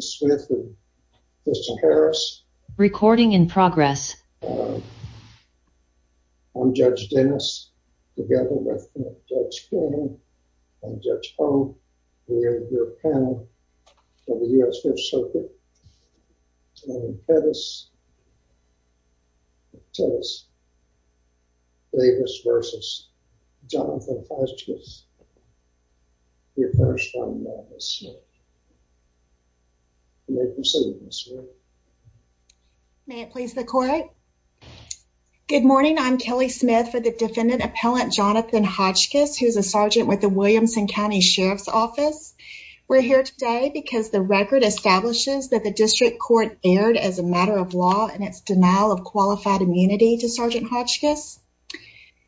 Smith and Kirsten Harris recording in progress. I'm Judge Dennis together with Judge Cronin and Judge Ho. We are your panel for the U.S. Fifth Circuit. Dennis Davis versus Jonathan Hodgkiss. May it please the court. Good morning, I'm Kelly Smith for the defendant appellant Jonathan Hodgkiss who's a sergeant with the Williamson County Sheriff's Office. We're here today because the record establishes that the district court erred as a matter of law and its denial of qualified immunity to Sergeant Hodgkiss.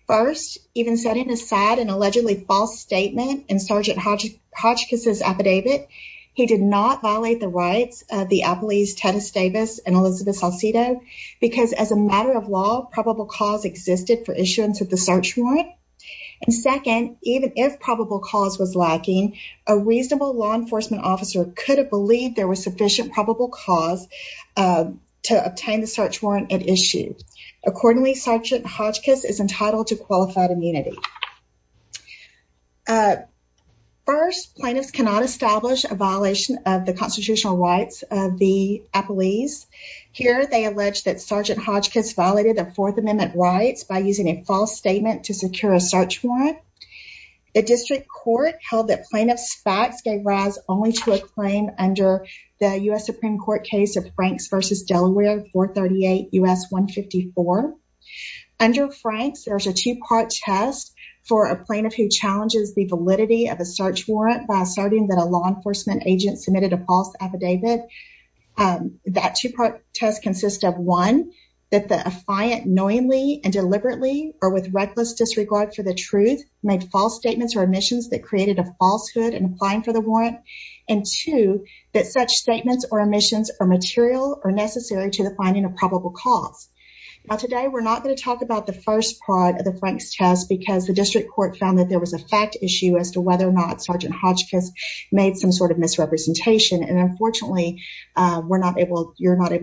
First, even setting aside an allegedly false statement in Sergeant Hodgkiss' affidavit, he did not violate the rights of the appellees Dennis Davis and Elizabeth Salcedo because as a matter of law, probable cause existed for issuance of the search warrant. And second, even if probable cause was lacking, a reasonable law enforcement officer could have believed there was sufficient probable cause to obtain the search warrant at issue. Accordingly, Sergeant Hodgkiss is entitled to qualified immunity. First, plaintiffs cannot establish a violation of the constitutional rights of the appellees. Here, they allege that Sergeant Hodgkiss violated the Fourth Amendment rights by using a false statement to secure a search warrant. The district court held that plaintiff's facts gave rise only to a claim under the U.S. Supreme Court case of Franks versus Delaware, 438 U.S. 154. Under Franks, there's a two-part test for a plaintiff who challenges the validity of a search warrant by asserting that a law enforcement agent submitted a false affidavit. That two-part test consists of one, that the affiant knowingly and deliberately or with reckless disregard for the truth made false statements or omissions that created a falsehood in applying for the warrant. And two, that such statements or omissions are material or necessary to the finding of probable cause. Now today, we're not going to talk about the first part of the Franks test because the district court found that there was a fact issue as to whether or not Sergeant Hodgkiss made some sort of misrepresentation. And unfortunately, you're not able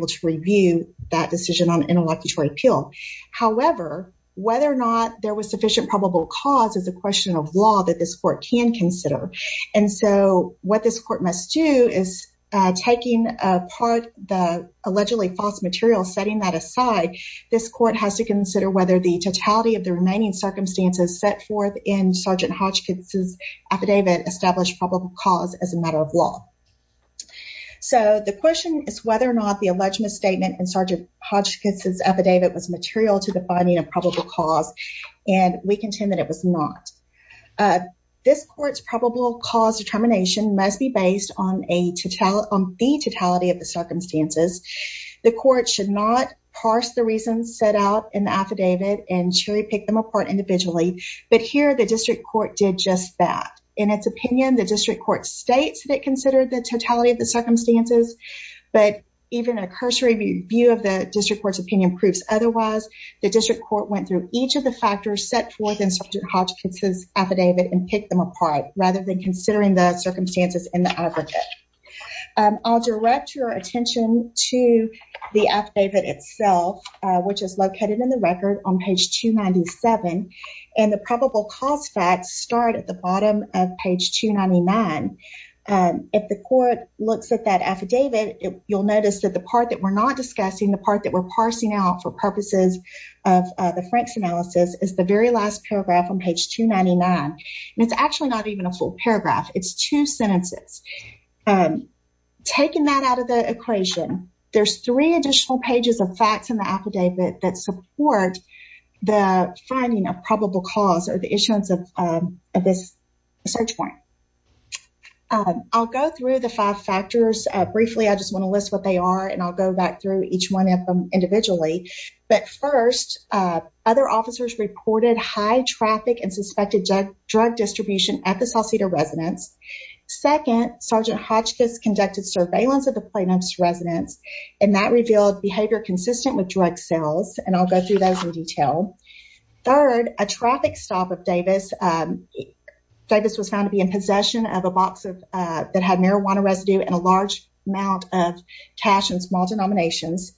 to review that decision on an interlocutory appeal. However, whether or not there was sufficient probable cause is a question of law that this court can consider. And so what this court must do is taking apart the allegedly false material, setting that aside, this court has to consider whether the totality of the remaining circumstances set forth in Sergeant Hodgkiss' affidavit established probable cause as a matter of law. So the question is whether or not the alleged misstatement in Sergeant Hodgkiss' affidavit was material to the finding of probable cause. And we contend that it was not. This court's probable cause determination must be based on the totality of the circumstances. The court should not parse the reasons set out in the affidavit and cherry pick them apart individually. But here, the district court did just that. In its opinion, the district court states that it considered the totality of the circumstances, but even a cursory view of the district court's opinion proves otherwise. The district court went through each of the factors set forth in Sergeant Hodgkiss' affidavit and picked them apart rather than considering the circumstances in the affidavit. I'll direct your attention to the affidavit itself, which is located in the record on page 297. And the probable cause facts start at the bottom of page 299. If the court looks at that affidavit, you'll notice that the part that we're not discussing, the part that we're parsing out for purposes of the Franks analysis, is the very last paragraph on page 299. And it's actually not even a full paragraph. It's two sentences. Taking that out of the equation, there's three additional pages of facts in the affidavit that support the finding of probable cause or the issuance of this search warrant. I'll go through the five factors briefly. I just want to list what they are, and I'll go back through each one of them individually. But first, other officers reported high traffic and suspected drug distribution at the South Cedar residence. Second, Sergeant Hodgkiss conducted surveillance of the plaintiff's residence, and that revealed behavior consistent with drug sales. And I'll go through those in detail. Third, a traffic stop of Davis. Davis was found to be in possession of a box that had marijuana residue and a large amount of cash in small denominations.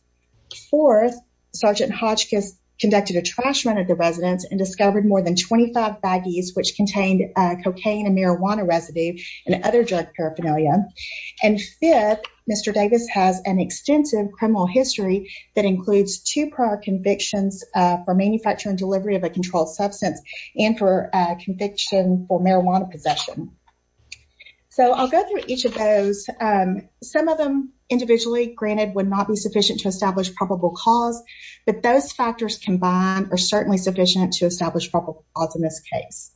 Fourth, Sergeant Hodgkiss conducted a trash run at the residence and discovered more than 25 baggies, which contained cocaine and marijuana residue and other drug paraphernalia. And fifth, Mr. Davis has an extensive criminal history that includes two prior convictions for manufacturing delivery of a controlled substance and for conviction for marijuana possession. So I'll go through each of those. Some of them individually, granted, would not be sufficient to establish probable cause, but those factors combined are certainly sufficient to establish probable cause in this case.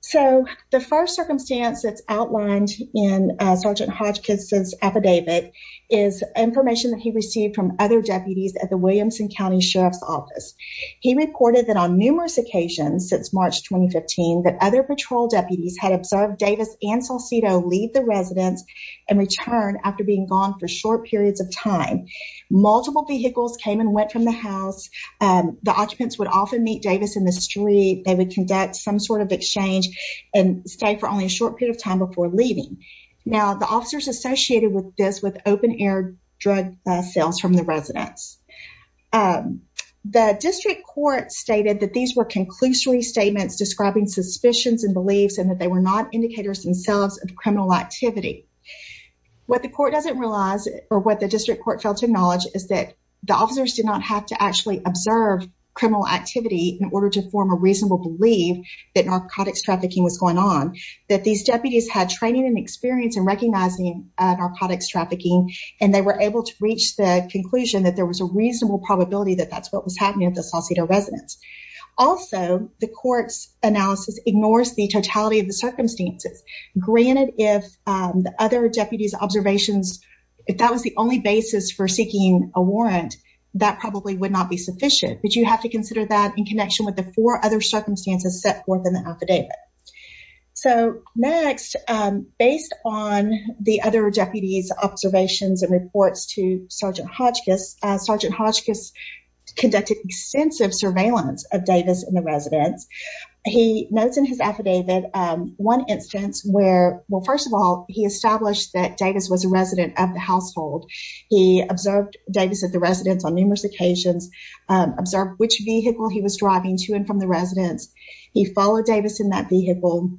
So the first circumstance that's outlined in Sergeant Hodgkiss' affidavit is information that he received from other deputies at the Williamson County Sheriff's Office. He reported that on numerous occasions since March 2015, that other patrol deputies had observed Davis and Salcido leave the residence and return after being gone for short periods of time. Multiple vehicles came and went from the house. The occupants would often meet Davis in the street. They would conduct some sort of exchange and stay for only a short period of time before leaving. Now, the officers associated with this with open-air drug sales from the residence. The district court stated that these were conclusory statements describing suspicions and beliefs and that they were not indicators themselves of criminal activity. What the court doesn't realize or what the district court failed to acknowledge is that the officers did not have to actually observe criminal activity in order to form a reasonable belief that narcotics trafficking was going on. That these deputies had training and experience in recognizing narcotics trafficking and they were able to reach the conclusion that there was a reasonable probability that that's what was happening at the Salcido residence. Also, the court's analysis ignores the totality of the circumstances. Granted, if the other deputies' observations, if that was the only basis for seeking a warrant, that probably would not be sufficient. But you have to consider that in connection with the four other circumstances set forth in the affidavit. So next, based on the other deputies' observations and reports to Sergeant Hodgkiss, Sergeant Hodgkiss conducted extensive surveillance of Davis in the residence. He notes in his affidavit one instance where, well, first of all, he established that Davis was a resident of the household. He observed Davis at the residence on numerous occasions, observed which vehicle he was driving to and from the residence. He followed Davis in that vehicle.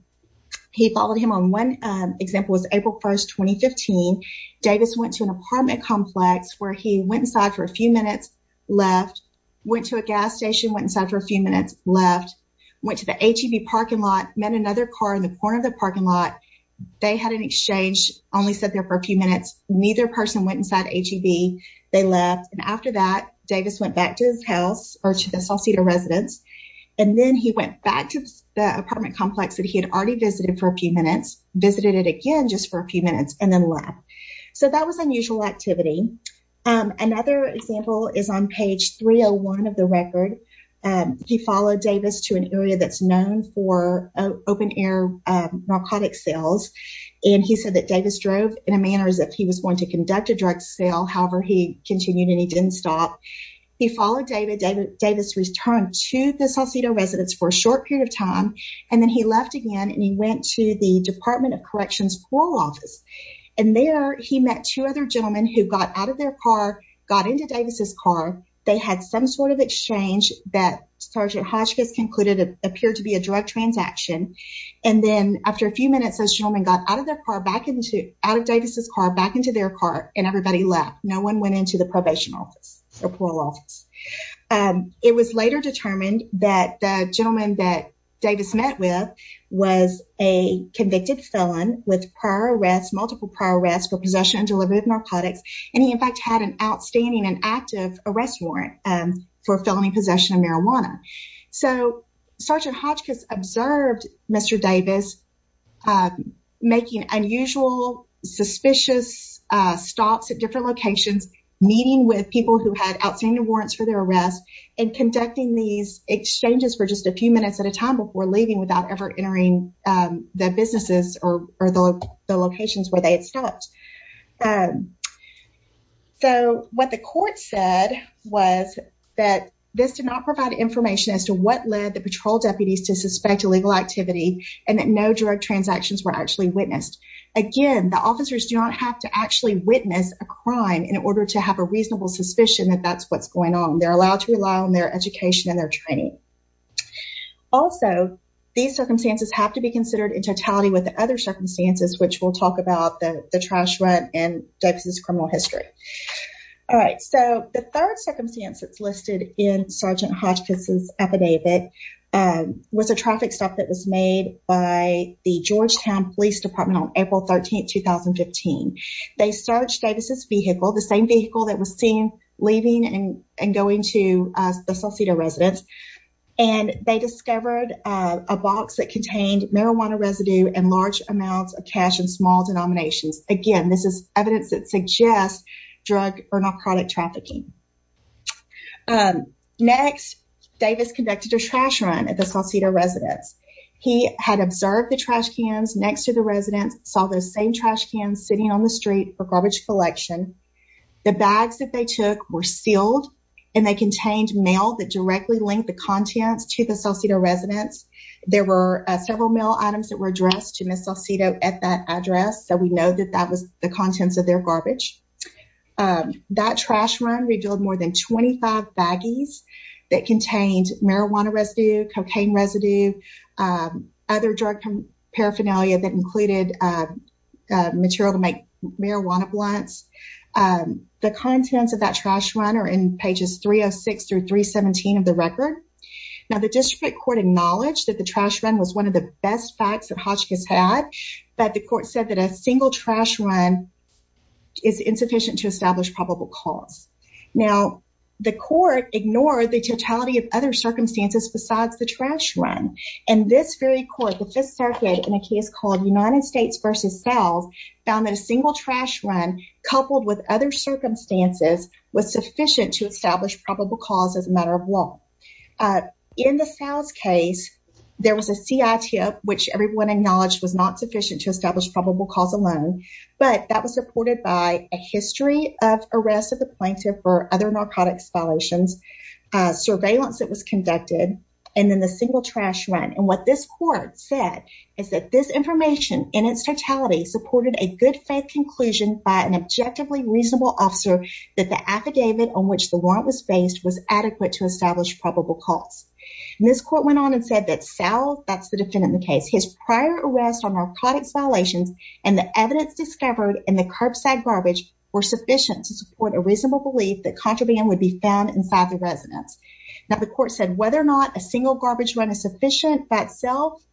He followed him on, one example was April 1st, 2015. Davis went to an apartment complex where he went inside for a few minutes, left, went to a gas station, went inside for a few minutes, left, went to the ATV parking lot, met another car in the corner of the parking lot. They had an exchange, only sat there for a few minutes. Neither person went inside the ATV. They left. And after that, Davis went back to his house or to the Salcedo residence. And then he went back to the apartment complex that he had already visited for a few minutes, visited it again just for a few minutes and then left. So that was unusual activity. Another example is on page 301 of the record. He followed Davis to an area that's known for open air narcotic sales. And he said that Davis drove in a manner as if he was going to conduct a drug sale. However, he continued and he didn't stop. He followed Davis. Davis returned to the Salcedo residence for a short period of time. And then he left again and he went to the Department of Corrections for office. And there he met two other gentlemen who got out of their car, got into Davis's car. They had some sort of exchange that Sergeant Hodgkins concluded appeared to be a drug transaction. And then after a few minutes, those gentlemen got out of their car, back into out of Davis's car, back into their car. And everybody left. No one went into the probation office or parole office. It was later determined that the gentleman that Davis met with was a convicted felon with prior arrest, multiple prior arrests for possession and delivery of narcotics. And he in fact had an outstanding and active arrest warrant for felony possession of marijuana. So Sergeant Hodgkins observed Mr. Davis making unusual, suspicious stops at different locations, meeting with people who had outstanding warrants for their arrest and conducting these exchanges for just a few minutes at a time before leaving without ever entering the businesses or the locations where they had stopped. So what the court said was that this did not provide information as to what led the patrol deputies to suspect illegal activity and that no drug transactions were actually witnessed. Again, the officers do not have to actually witness a crime in order to have a reasonable suspicion that that's what's going on. They're allowed to rely on their education and their training. Also, these circumstances have to be considered in totality with the other circumstances, which we'll talk about the trash run and Davis's criminal history. All right. So the third circumstance that's listed in Sergeant Hodgkins' affidavit was a traffic stop that was made by the Georgetown Police Department on April 13th, 2015. They searched Davis's vehicle, the same vehicle that was seen leaving and going to the Salcido residence, and they discovered a box that contained marijuana residue and large amounts of cash in small denominations. Again, this is evidence that suggests drug or narcotic trafficking. Next, Davis conducted a trash run at the Salcido residence. He had observed the trash cans next to the residence, saw the same trash cans sitting on the street for garbage collection. The bags that they took were sealed and they contained mail that directly linked the contents to the Salcido residence. There were several mail items that were addressed to Ms. Salcido at that address, so we know that that was the contents of their garbage. That trash run revealed more than 25 baggies that contained marijuana residue, cocaine residue, other drug paraphernalia that included material to make marijuana blunts. The contents of that trash run are in pages 306 through 317 of the record. Now, the district court acknowledged that the trash run was one of the best facts that Hotchkiss had, but the court said that a single trash run is insufficient to establish probable cause. Now, the court ignored the totality of other circumstances besides the trash run, and this very court, the Fifth Circuit, in a case called United States v. South, found that a single trash run coupled with other circumstances was sufficient to establish probable cause as a matter of law. In the South's case, there was a CITF, which everyone acknowledged was not sufficient to establish probable cause alone, but that was supported by a history of arrest of the plaintiff for other narcotics violations, surveillance that was conducted, and then the single trash run. And what this court said is that this information, in its totality, supported a good faith conclusion by an objectively reasonable officer that the affidavit on which the warrant was based was adequate to establish probable cause. And this court went on and said that South, that's the defendant in the case, his prior arrest on narcotics violations and the evidence discovered in the curbside garbage were sufficient to support a reasonable belief that contraband would be found inside the residence. Now, the court said whether or not a single garbage run is sufficient by itself,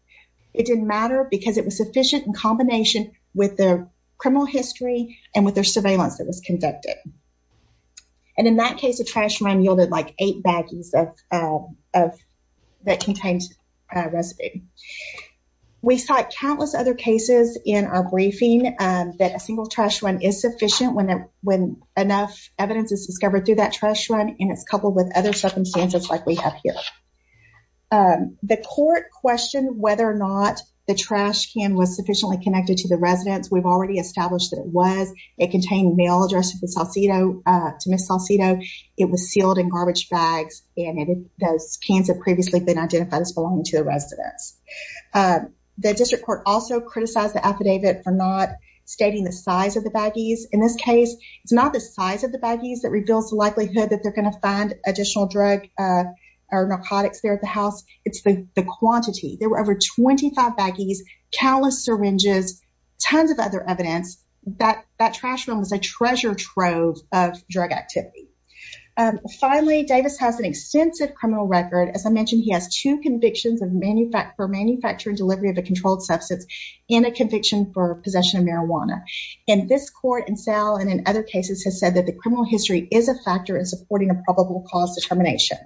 it didn't matter because it was sufficient in combination with the criminal history and with their surveillance that was conducted. And in that case, a trash run yielded like eight baggies that contained a recipe. We cite countless other cases in our briefing that a single trash run is sufficient when enough evidence is discovered through that trash run, and it's coupled with other circumstances like we have here. The court questioned whether or not the trash can was sufficiently connected to the residence. We've already established that it was. It contained mail addressed to Ms. Salcido. It was sealed in garbage bags, and those cans had previously been identified as belonging to the residence. The district court also criticized the affidavit for not stating the size of the baggies. In this case, it's not the size of the baggies that reveals the likelihood that they're going to find additional drug or narcotics there at the house. It's the quantity. There were over 25 baggies, countless syringes, tons of other evidence. That trash run was a treasure trove of drug activity. Finally, Davis has an extensive criminal record. As I mentioned, he has two convictions for manufacturing delivery of a controlled substance and a conviction for possession of marijuana. And this court, and Sal, and in other cases, has said that the criminal history is a factor in supporting a probable cause determination.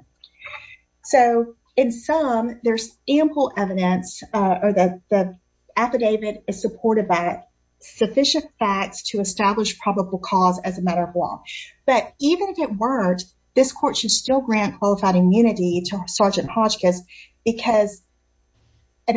So, in sum, there's ample evidence, or the affidavit is supported by sufficient facts to establish probable cause as a matter of law. But even if it weren't, this court should still grant qualified immunity to Sergeant Hodgkiss because he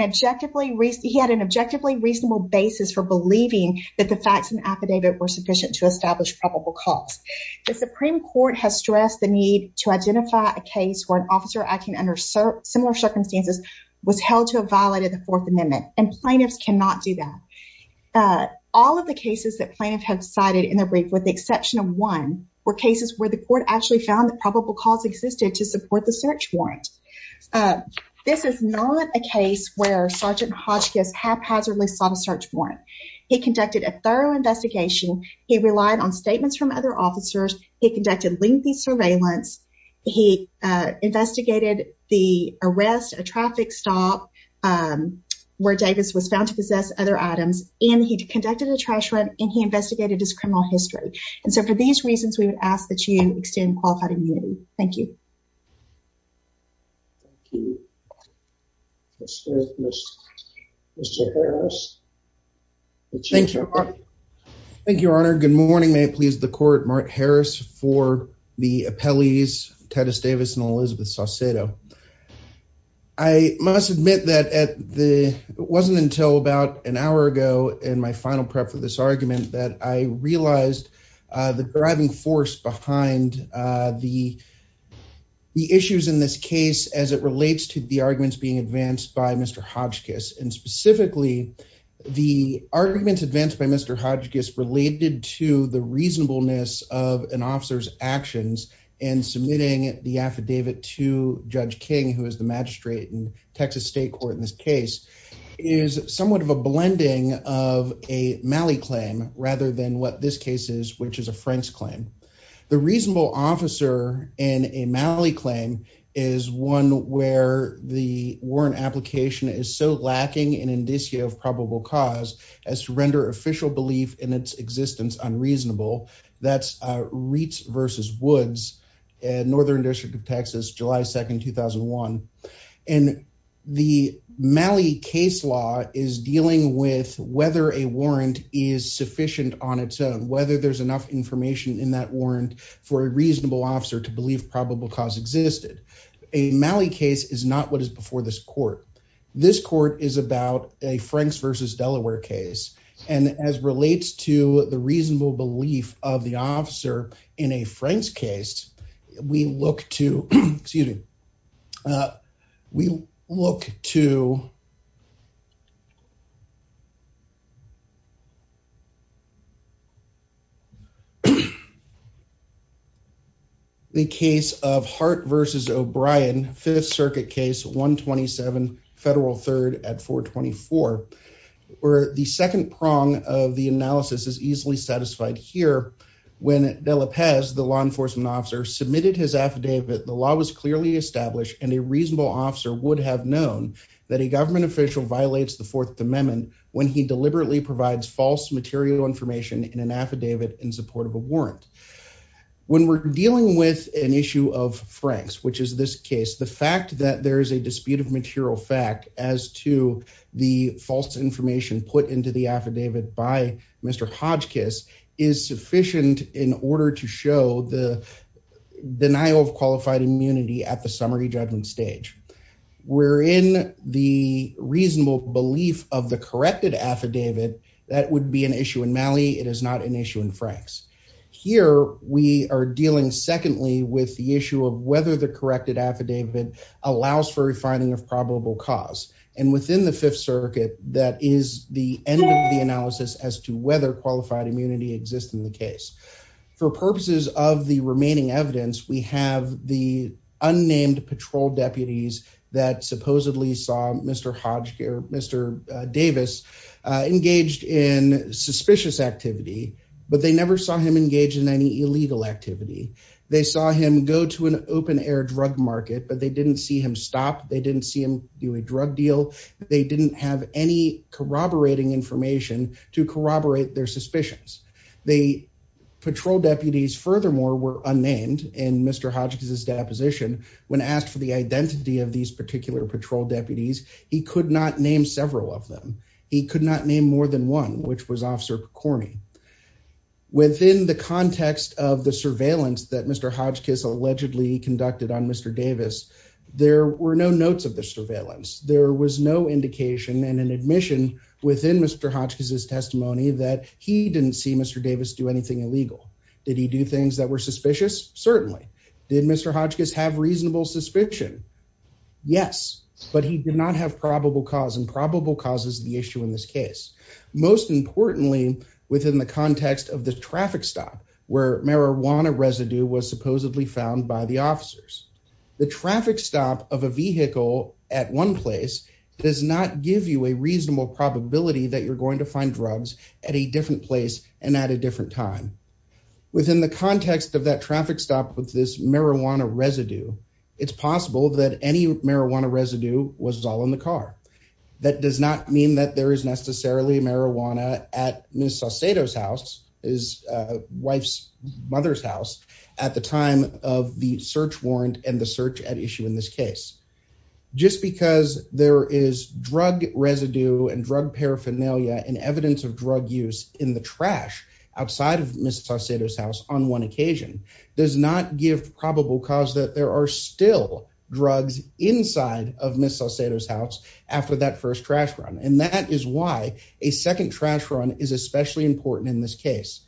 had an objectively reasonable basis for believing that the facts in the affidavit were sufficient to establish probable cause. The Supreme Court has stressed the need to identify a case where an officer acting under similar circumstances was held to have violated the Fourth Amendment, and plaintiffs cannot do that. All of the cases that plaintiffs have cited in their brief, with the exception of one, were cases where the court actually found that probable cause existed to support the search warrant. This is not a case where Sergeant Hodgkiss haphazardly sought a search warrant. He conducted a thorough investigation. He relied on statements from other officers. He conducted lengthy surveillance. He investigated the arrest, a traffic stop, where Davis was found to possess other items, and he conducted a trash run, and he investigated his criminal history. And so, for these reasons, we would ask that you extend qualified immunity. Thank you. Thank you. Mr. Harris. Thank you. Thank you, Your Honor. Good morning. May it please the Court. Mart Harris for the appellees, Teddy Davis and Elizabeth Saucedo. I must admit that it wasn't until about an hour ago in my final prep for this argument that I realized the driving force behind the issues in this case as it relates to the arguments being advanced by Mr. Hodgkiss, and specifically, the arguments advanced by Mr. Hodgkiss related to the reasonableness of an officer's actions in submitting the affidavit to Judge King, who is the magistrate in Texas State Court in this case, is somewhat of a blending of a Malley claim rather than what this case is, which is a Franks claim. The reasonable officer in a Malley claim is one where the warrant application is so lacking an indicio of probable cause as to render official belief in its existence unreasonable. That's Reitz v. Woods, Northern District of Texas, July 2, 2001. And the Malley case law is dealing with whether a warrant is sufficient on its own, whether there's enough information in that warrant for a reasonable officer to believe probable cause existed. A Malley case is not what is before this court. This court is about a Franks v. Delaware case, and as relates to the reasonable belief of the officer in a Franks case, we look to the case of Hart v. O'Brien, 5th Circuit Case 127, Federal 3rd at 424, where the second prong of the analysis is easily satisfied here when De La Paz, the law enforcement officer, submitted his affidavit, the law was clearly established, and a reasonable officer would have known that a government official violates the Fourth Amendment when he deliberately provides false material information in an affidavit in support of a warrant. When we're dealing with an issue of Franks, which is this case, the fact that there is a dispute of material fact as to the false information put into the affidavit by Mr. Hodgkiss is sufficient in order to show the denial of qualified immunity at the summary judgment stage. We're in the reasonable belief of the corrected affidavit that would be an issue in Malley. It is not an issue in Franks. Here we are dealing secondly with the issue of whether the corrected affidavit allows for refining of probable cause, and within the Fifth Circuit, that is the end of the analysis as to whether qualified immunity exists in the case. For purposes of the remaining evidence, we have the unnamed patrol deputies that supposedly saw Mr. Hodgkiss or Mr. Davis engaged in suspicious activity, but they never saw him engaged in any illegal activity. They saw him go to an open-air drug market, but they didn't see him stop. They didn't see him do a drug deal. They didn't have any corroborating information to corroborate their suspicions. The patrol deputies, furthermore, were unnamed in Mr. Hodgkiss' deposition. When asked for the identity of these particular patrol deputies, he could not name several of them. He could not name more than one, which was Officer McCormick. Within the context of the surveillance that Mr. Hodgkiss allegedly conducted on Mr. Davis, there were no notes of the surveillance. There was no indication and an admission within Mr. Hodgkiss' testimony that he didn't see Mr. Davis do anything illegal. Did he do things that were suspicious? Certainly. Did Mr. Hodgkiss have reasonable suspicion? Yes, but he did not have probable cause, and probable cause is the issue in this case. Most importantly, within the context of the traffic stop where marijuana residue was supposedly found by the officers, the traffic stop of a vehicle at one place does not give you a reasonable probability that you're going to find drugs at a different place and at a different time. Within the context of that traffic stop with this marijuana residue, it's possible that any marijuana residue was all in the car. That does not mean that there is necessarily marijuana at Ms. Saucedo's house, his wife's mother's house, at the time of the search warrant and the search at issue in this case. Just because there is drug residue and drug paraphernalia and evidence of drug use in the trash outside of Ms. Saucedo's house on one occasion does not give probable cause that there are still drugs inside of Ms. Saucedo's house after that first trash run, and that is why a second trash run is especially important in this case.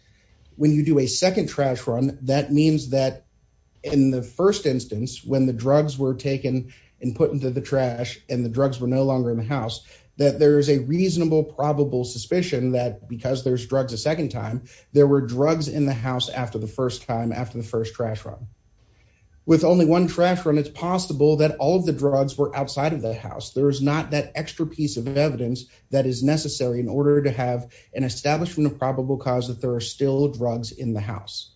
When you do a second trash run, that means that in the first instance when the drugs were taken and put into the trash and the drugs were no longer in the house, that there is a reasonable probable suspicion that because there's drugs a second time, there were drugs in the house after the first time after the first trash run. With only one trash run, it's possible that all of the drugs were outside of the house. There is not that extra piece of evidence that is necessary in order to have an establishment of probable cause that there are still drugs in the house.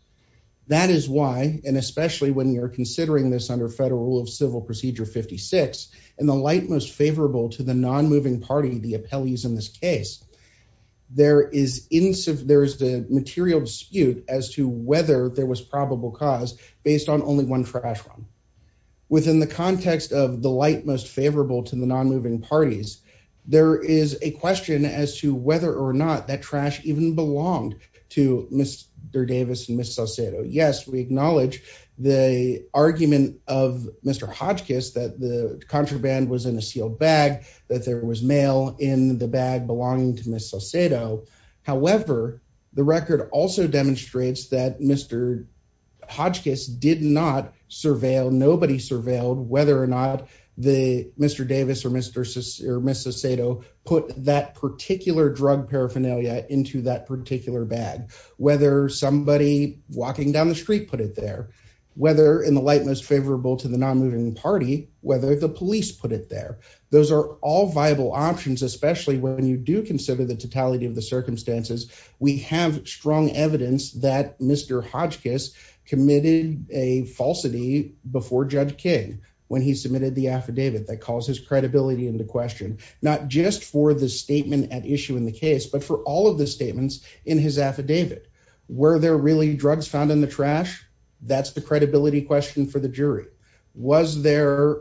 That is why, and especially when you're considering this under Federal Rule of Civil Procedure 56, in the light most favorable to the nonmoving party, the appellees in this case, there is the material dispute as to whether there was probable cause based on only one trash run. Within the context of the light most favorable to the nonmoving parties, there is a question as to whether or not that trash even belonged to Mr. Davis and Ms. Salcedo. Yes, we acknowledge the argument of Mr. Hodgkiss that the contraband was in a sealed bag, that there was mail in the bag belonging to Ms. Salcedo. However, the record also demonstrates that Mr. Hodgkiss did not surveil, nobody surveilled whether or not Mr. Davis or Ms. Salcedo put that particular drug paraphernalia into that particular bag, whether somebody walking down the street put it there, whether in the light most favorable to the nonmoving party, whether the police put it there. Those are all viable options, especially when you do consider the totality of the circumstances. We have strong evidence that Mr. Hodgkiss committed a falsity before Judge King when he submitted the affidavit that calls his credibility into question, not just for the statement at issue in the case, but for all of the statements in his affidavit. Were there really drugs found in the trash? That's the credibility question for the jury. Was there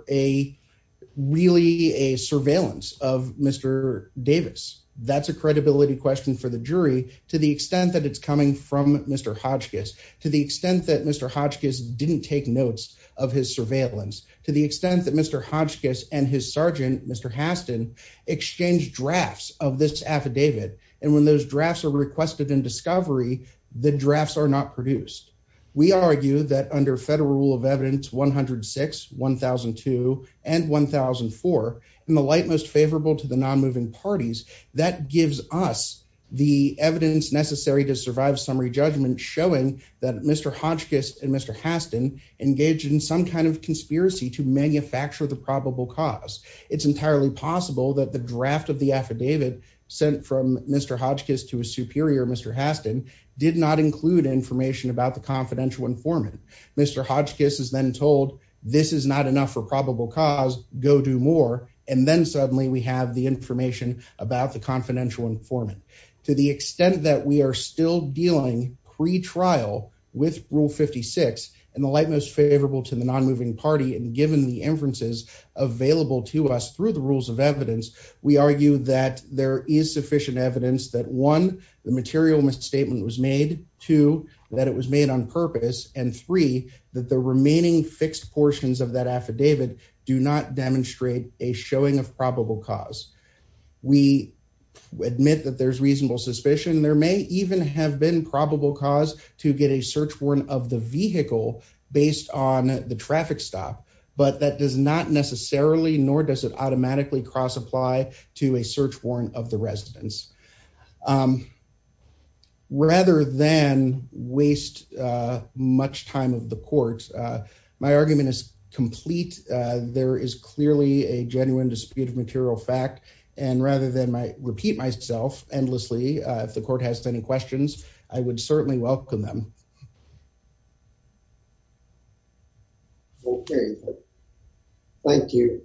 really a surveillance of Mr. Davis? That's a credibility question for the jury to the extent that it's coming from Mr. Hodgkiss, to the extent that Mr. Hodgkiss didn't take notes of his surveillance, to the extent that Mr. Hodgkiss and his sergeant, Mr. Haston, exchanged drafts of this affidavit. And when those drafts are requested in discovery, the drafts are not produced. We argue that under federal rule of evidence, 106, 1002, and 1004, in the light most favorable to the nonmoving parties, that gives us the evidence necessary to survive summary judgment showing that Mr. Hodgkiss and Mr. Haston engaged in some kind of conspiracy to manufacture the probable cause. It's entirely possible that the draft of the affidavit sent from Mr. Hodgkiss to a superior, Mr. Haston, did not include information about the confidential informant. Mr. Hodgkiss is then told this is not enough for probable cause, go do more. And then suddenly we have the information about the confidential informant. To the extent that we are still dealing pre-trial with rule 56, in the light most favorable to the nonmoving party, and given the inferences available to us through the rules of evidence, we argue that there is sufficient evidence that, one, the material misstatement was made, two, that it was made on purpose, and three, that the remaining fixed portions of that affidavit do not demonstrate a showing of probable cause. We admit that there's reasonable suspicion. There may even have been probable cause to get a search warrant of the vehicle based on the traffic stop, but that does not necessarily, nor does it automatically cross-apply to a search warrant of the residence. Rather than waste much time of the court, my argument is complete. There is clearly a genuine dispute of material fact, and rather than repeat myself endlessly, if the court has any questions, I would certainly welcome them. Thank you.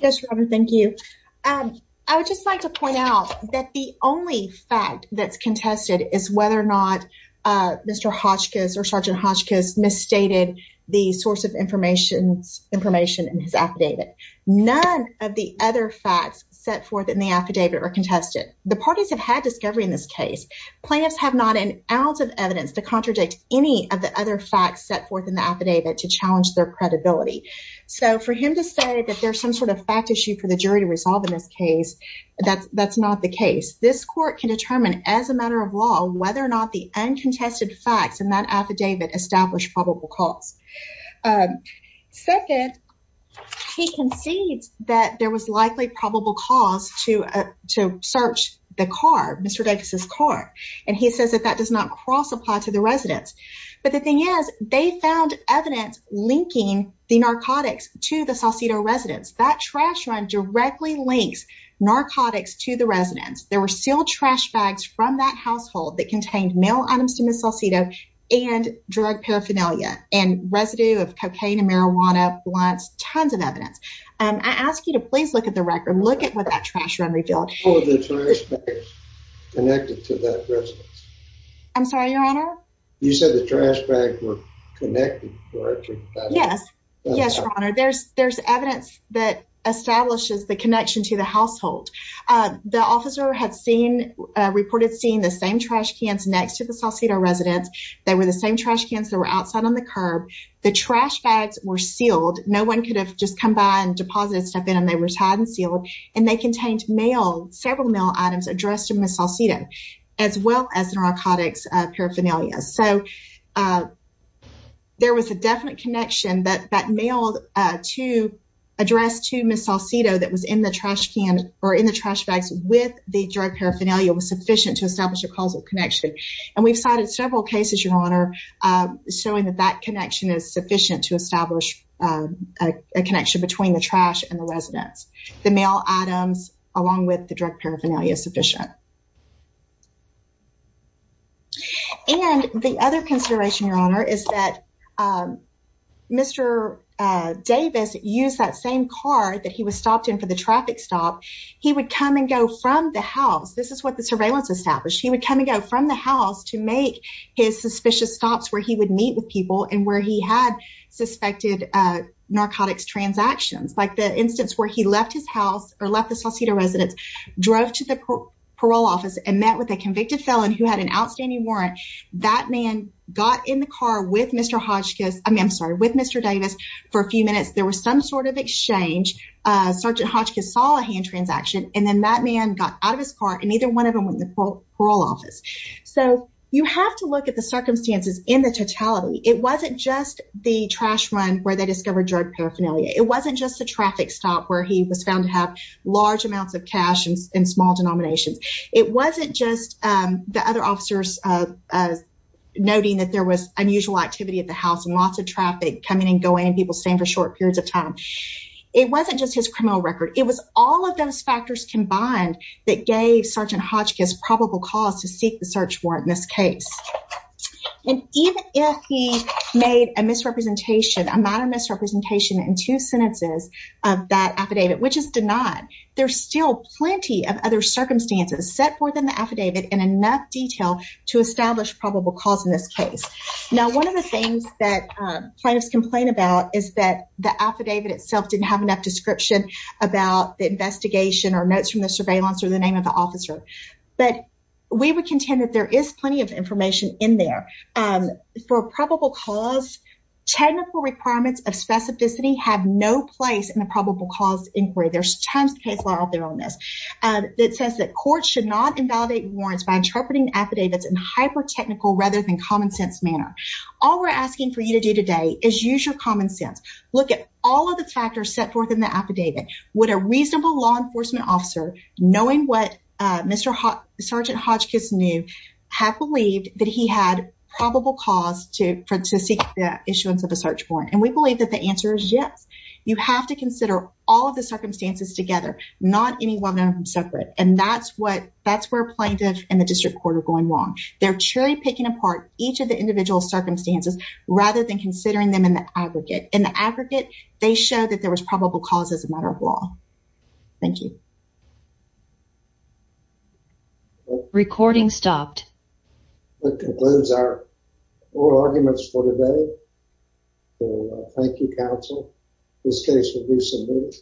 Yes, Robert, thank you. I would just like to point out that the only fact that's contested is whether or not Mr. Hotchkiss or Sergeant Hotchkiss misstated the source of information in his affidavit. None of the other facts set forth in the affidavit are contested. The parties have had discovery in this case. Plaintiffs have not an ounce of evidence to contradict any of the other facts set forth in the affidavit to challenge their credibility. So for him to say that there's some sort of fact issue for the jury to resolve in this case, that's not the case. This court can determine as a matter of law whether or not the uncontested facts in that affidavit establish probable cause. Second, he concedes that there was likely probable cause to search the car, Mr. Davis' car, and he says that that does not cross-apply to the residence. But the thing is, they found evidence linking the narcotics to the Saucedo residence. That trash run directly links narcotics to the residence. There were sealed trash bags from that household that contained male items to Ms. Saucedo and drug paraphernalia and residue of cocaine and marijuana, blunts, tons of evidence. I ask you to please look at the record. Look at what that trash run revealed. I'm sorry, Your Honor? Yes, Your Honor. There's evidence that establishes the connection to the household. The officer had reported seeing the same trash cans next to the Saucedo residence. They were the same trash cans that were outside on the curb. The trash bags were sealed. No one could have just come by and deposited stuff in them. They were tied and sealed, and they contained several male items addressed to Ms. Saucedo as well as the narcotics paraphernalia. So there was a definite connection that mailed to address to Ms. Saucedo that was in the trash bags with the drug paraphernalia was sufficient to establish a causal connection. And we've cited several cases, Your Honor, showing that that connection is sufficient to establish a connection between the trash and the residence. The male items along with the drug paraphernalia is sufficient. And the other consideration, Your Honor, is that if Mr. Davis used that same car that he was stopped in for the traffic stop, he would come and go from the house. This is what the surveillance established. He would come and go from the house to make his suspicious stops where he would meet with people and where he had suspected narcotics transactions. Like the instance where he left his house or left the Saucedo residence, drove to the parole office and met with a convicted felon who had an outstanding warrant. That man got in the car with Mr. Davis for a few minutes. There was some sort of exchange. Sergeant Hotchkiss saw a hand transaction and then that man got out of his car and neither one of them went to the parole office. So you have to look at the circumstances in the totality. It wasn't just the trash run where they discovered drug paraphernalia. It wasn't just the traffic stop where he was found to have large amounts of cash in small denominations. It wasn't just the other officers noting that there was unusual activity at the house and lots of traffic coming and going and people staying for short periods of time. It wasn't just his criminal record. It was all of those factors combined that gave Sergeant Hotchkiss probable cause to seek the search warrant in this case. And even if he made a misrepresentation, a minor misrepresentation in two sentences of that affidavit, which is denied, there's still plenty of other circumstances set forth in the affidavit in enough detail to establish probable cause in this case. Now, one of the things that plaintiffs complain about is that the affidavit itself didn't have enough description about the investigation or notes from the surveillance or the name of the officer. But we would contend that there is plenty of information in there. For probable cause, technical requirements of specificity have no place in a probable cause inquiry. There's tons of cases out there on this that says that courts should not invalidate warrants by interpreting affidavits in hyper-technical rather than common sense manner. All we're asking for you to do today is use your common sense. Look at all of the factors set forth in the affidavit. Would a reasonable law enforcement officer, knowing what Sergeant Hotchkiss knew, have believed that he had probable cause to seek the issuance of a search warrant? And we believe that the answer is yes. You have to consider all of the circumstances together, not any one of them separate. And that's where plaintiff and the district court are going wrong. They're truly picking apart each of the individual circumstances rather than considering them in the aggregate. In the aggregate, they show that there was probable cause as a matter of law. Thank you. Recording stopped. That concludes our oral arguments for today. Thank you, counsel. This case will do some good.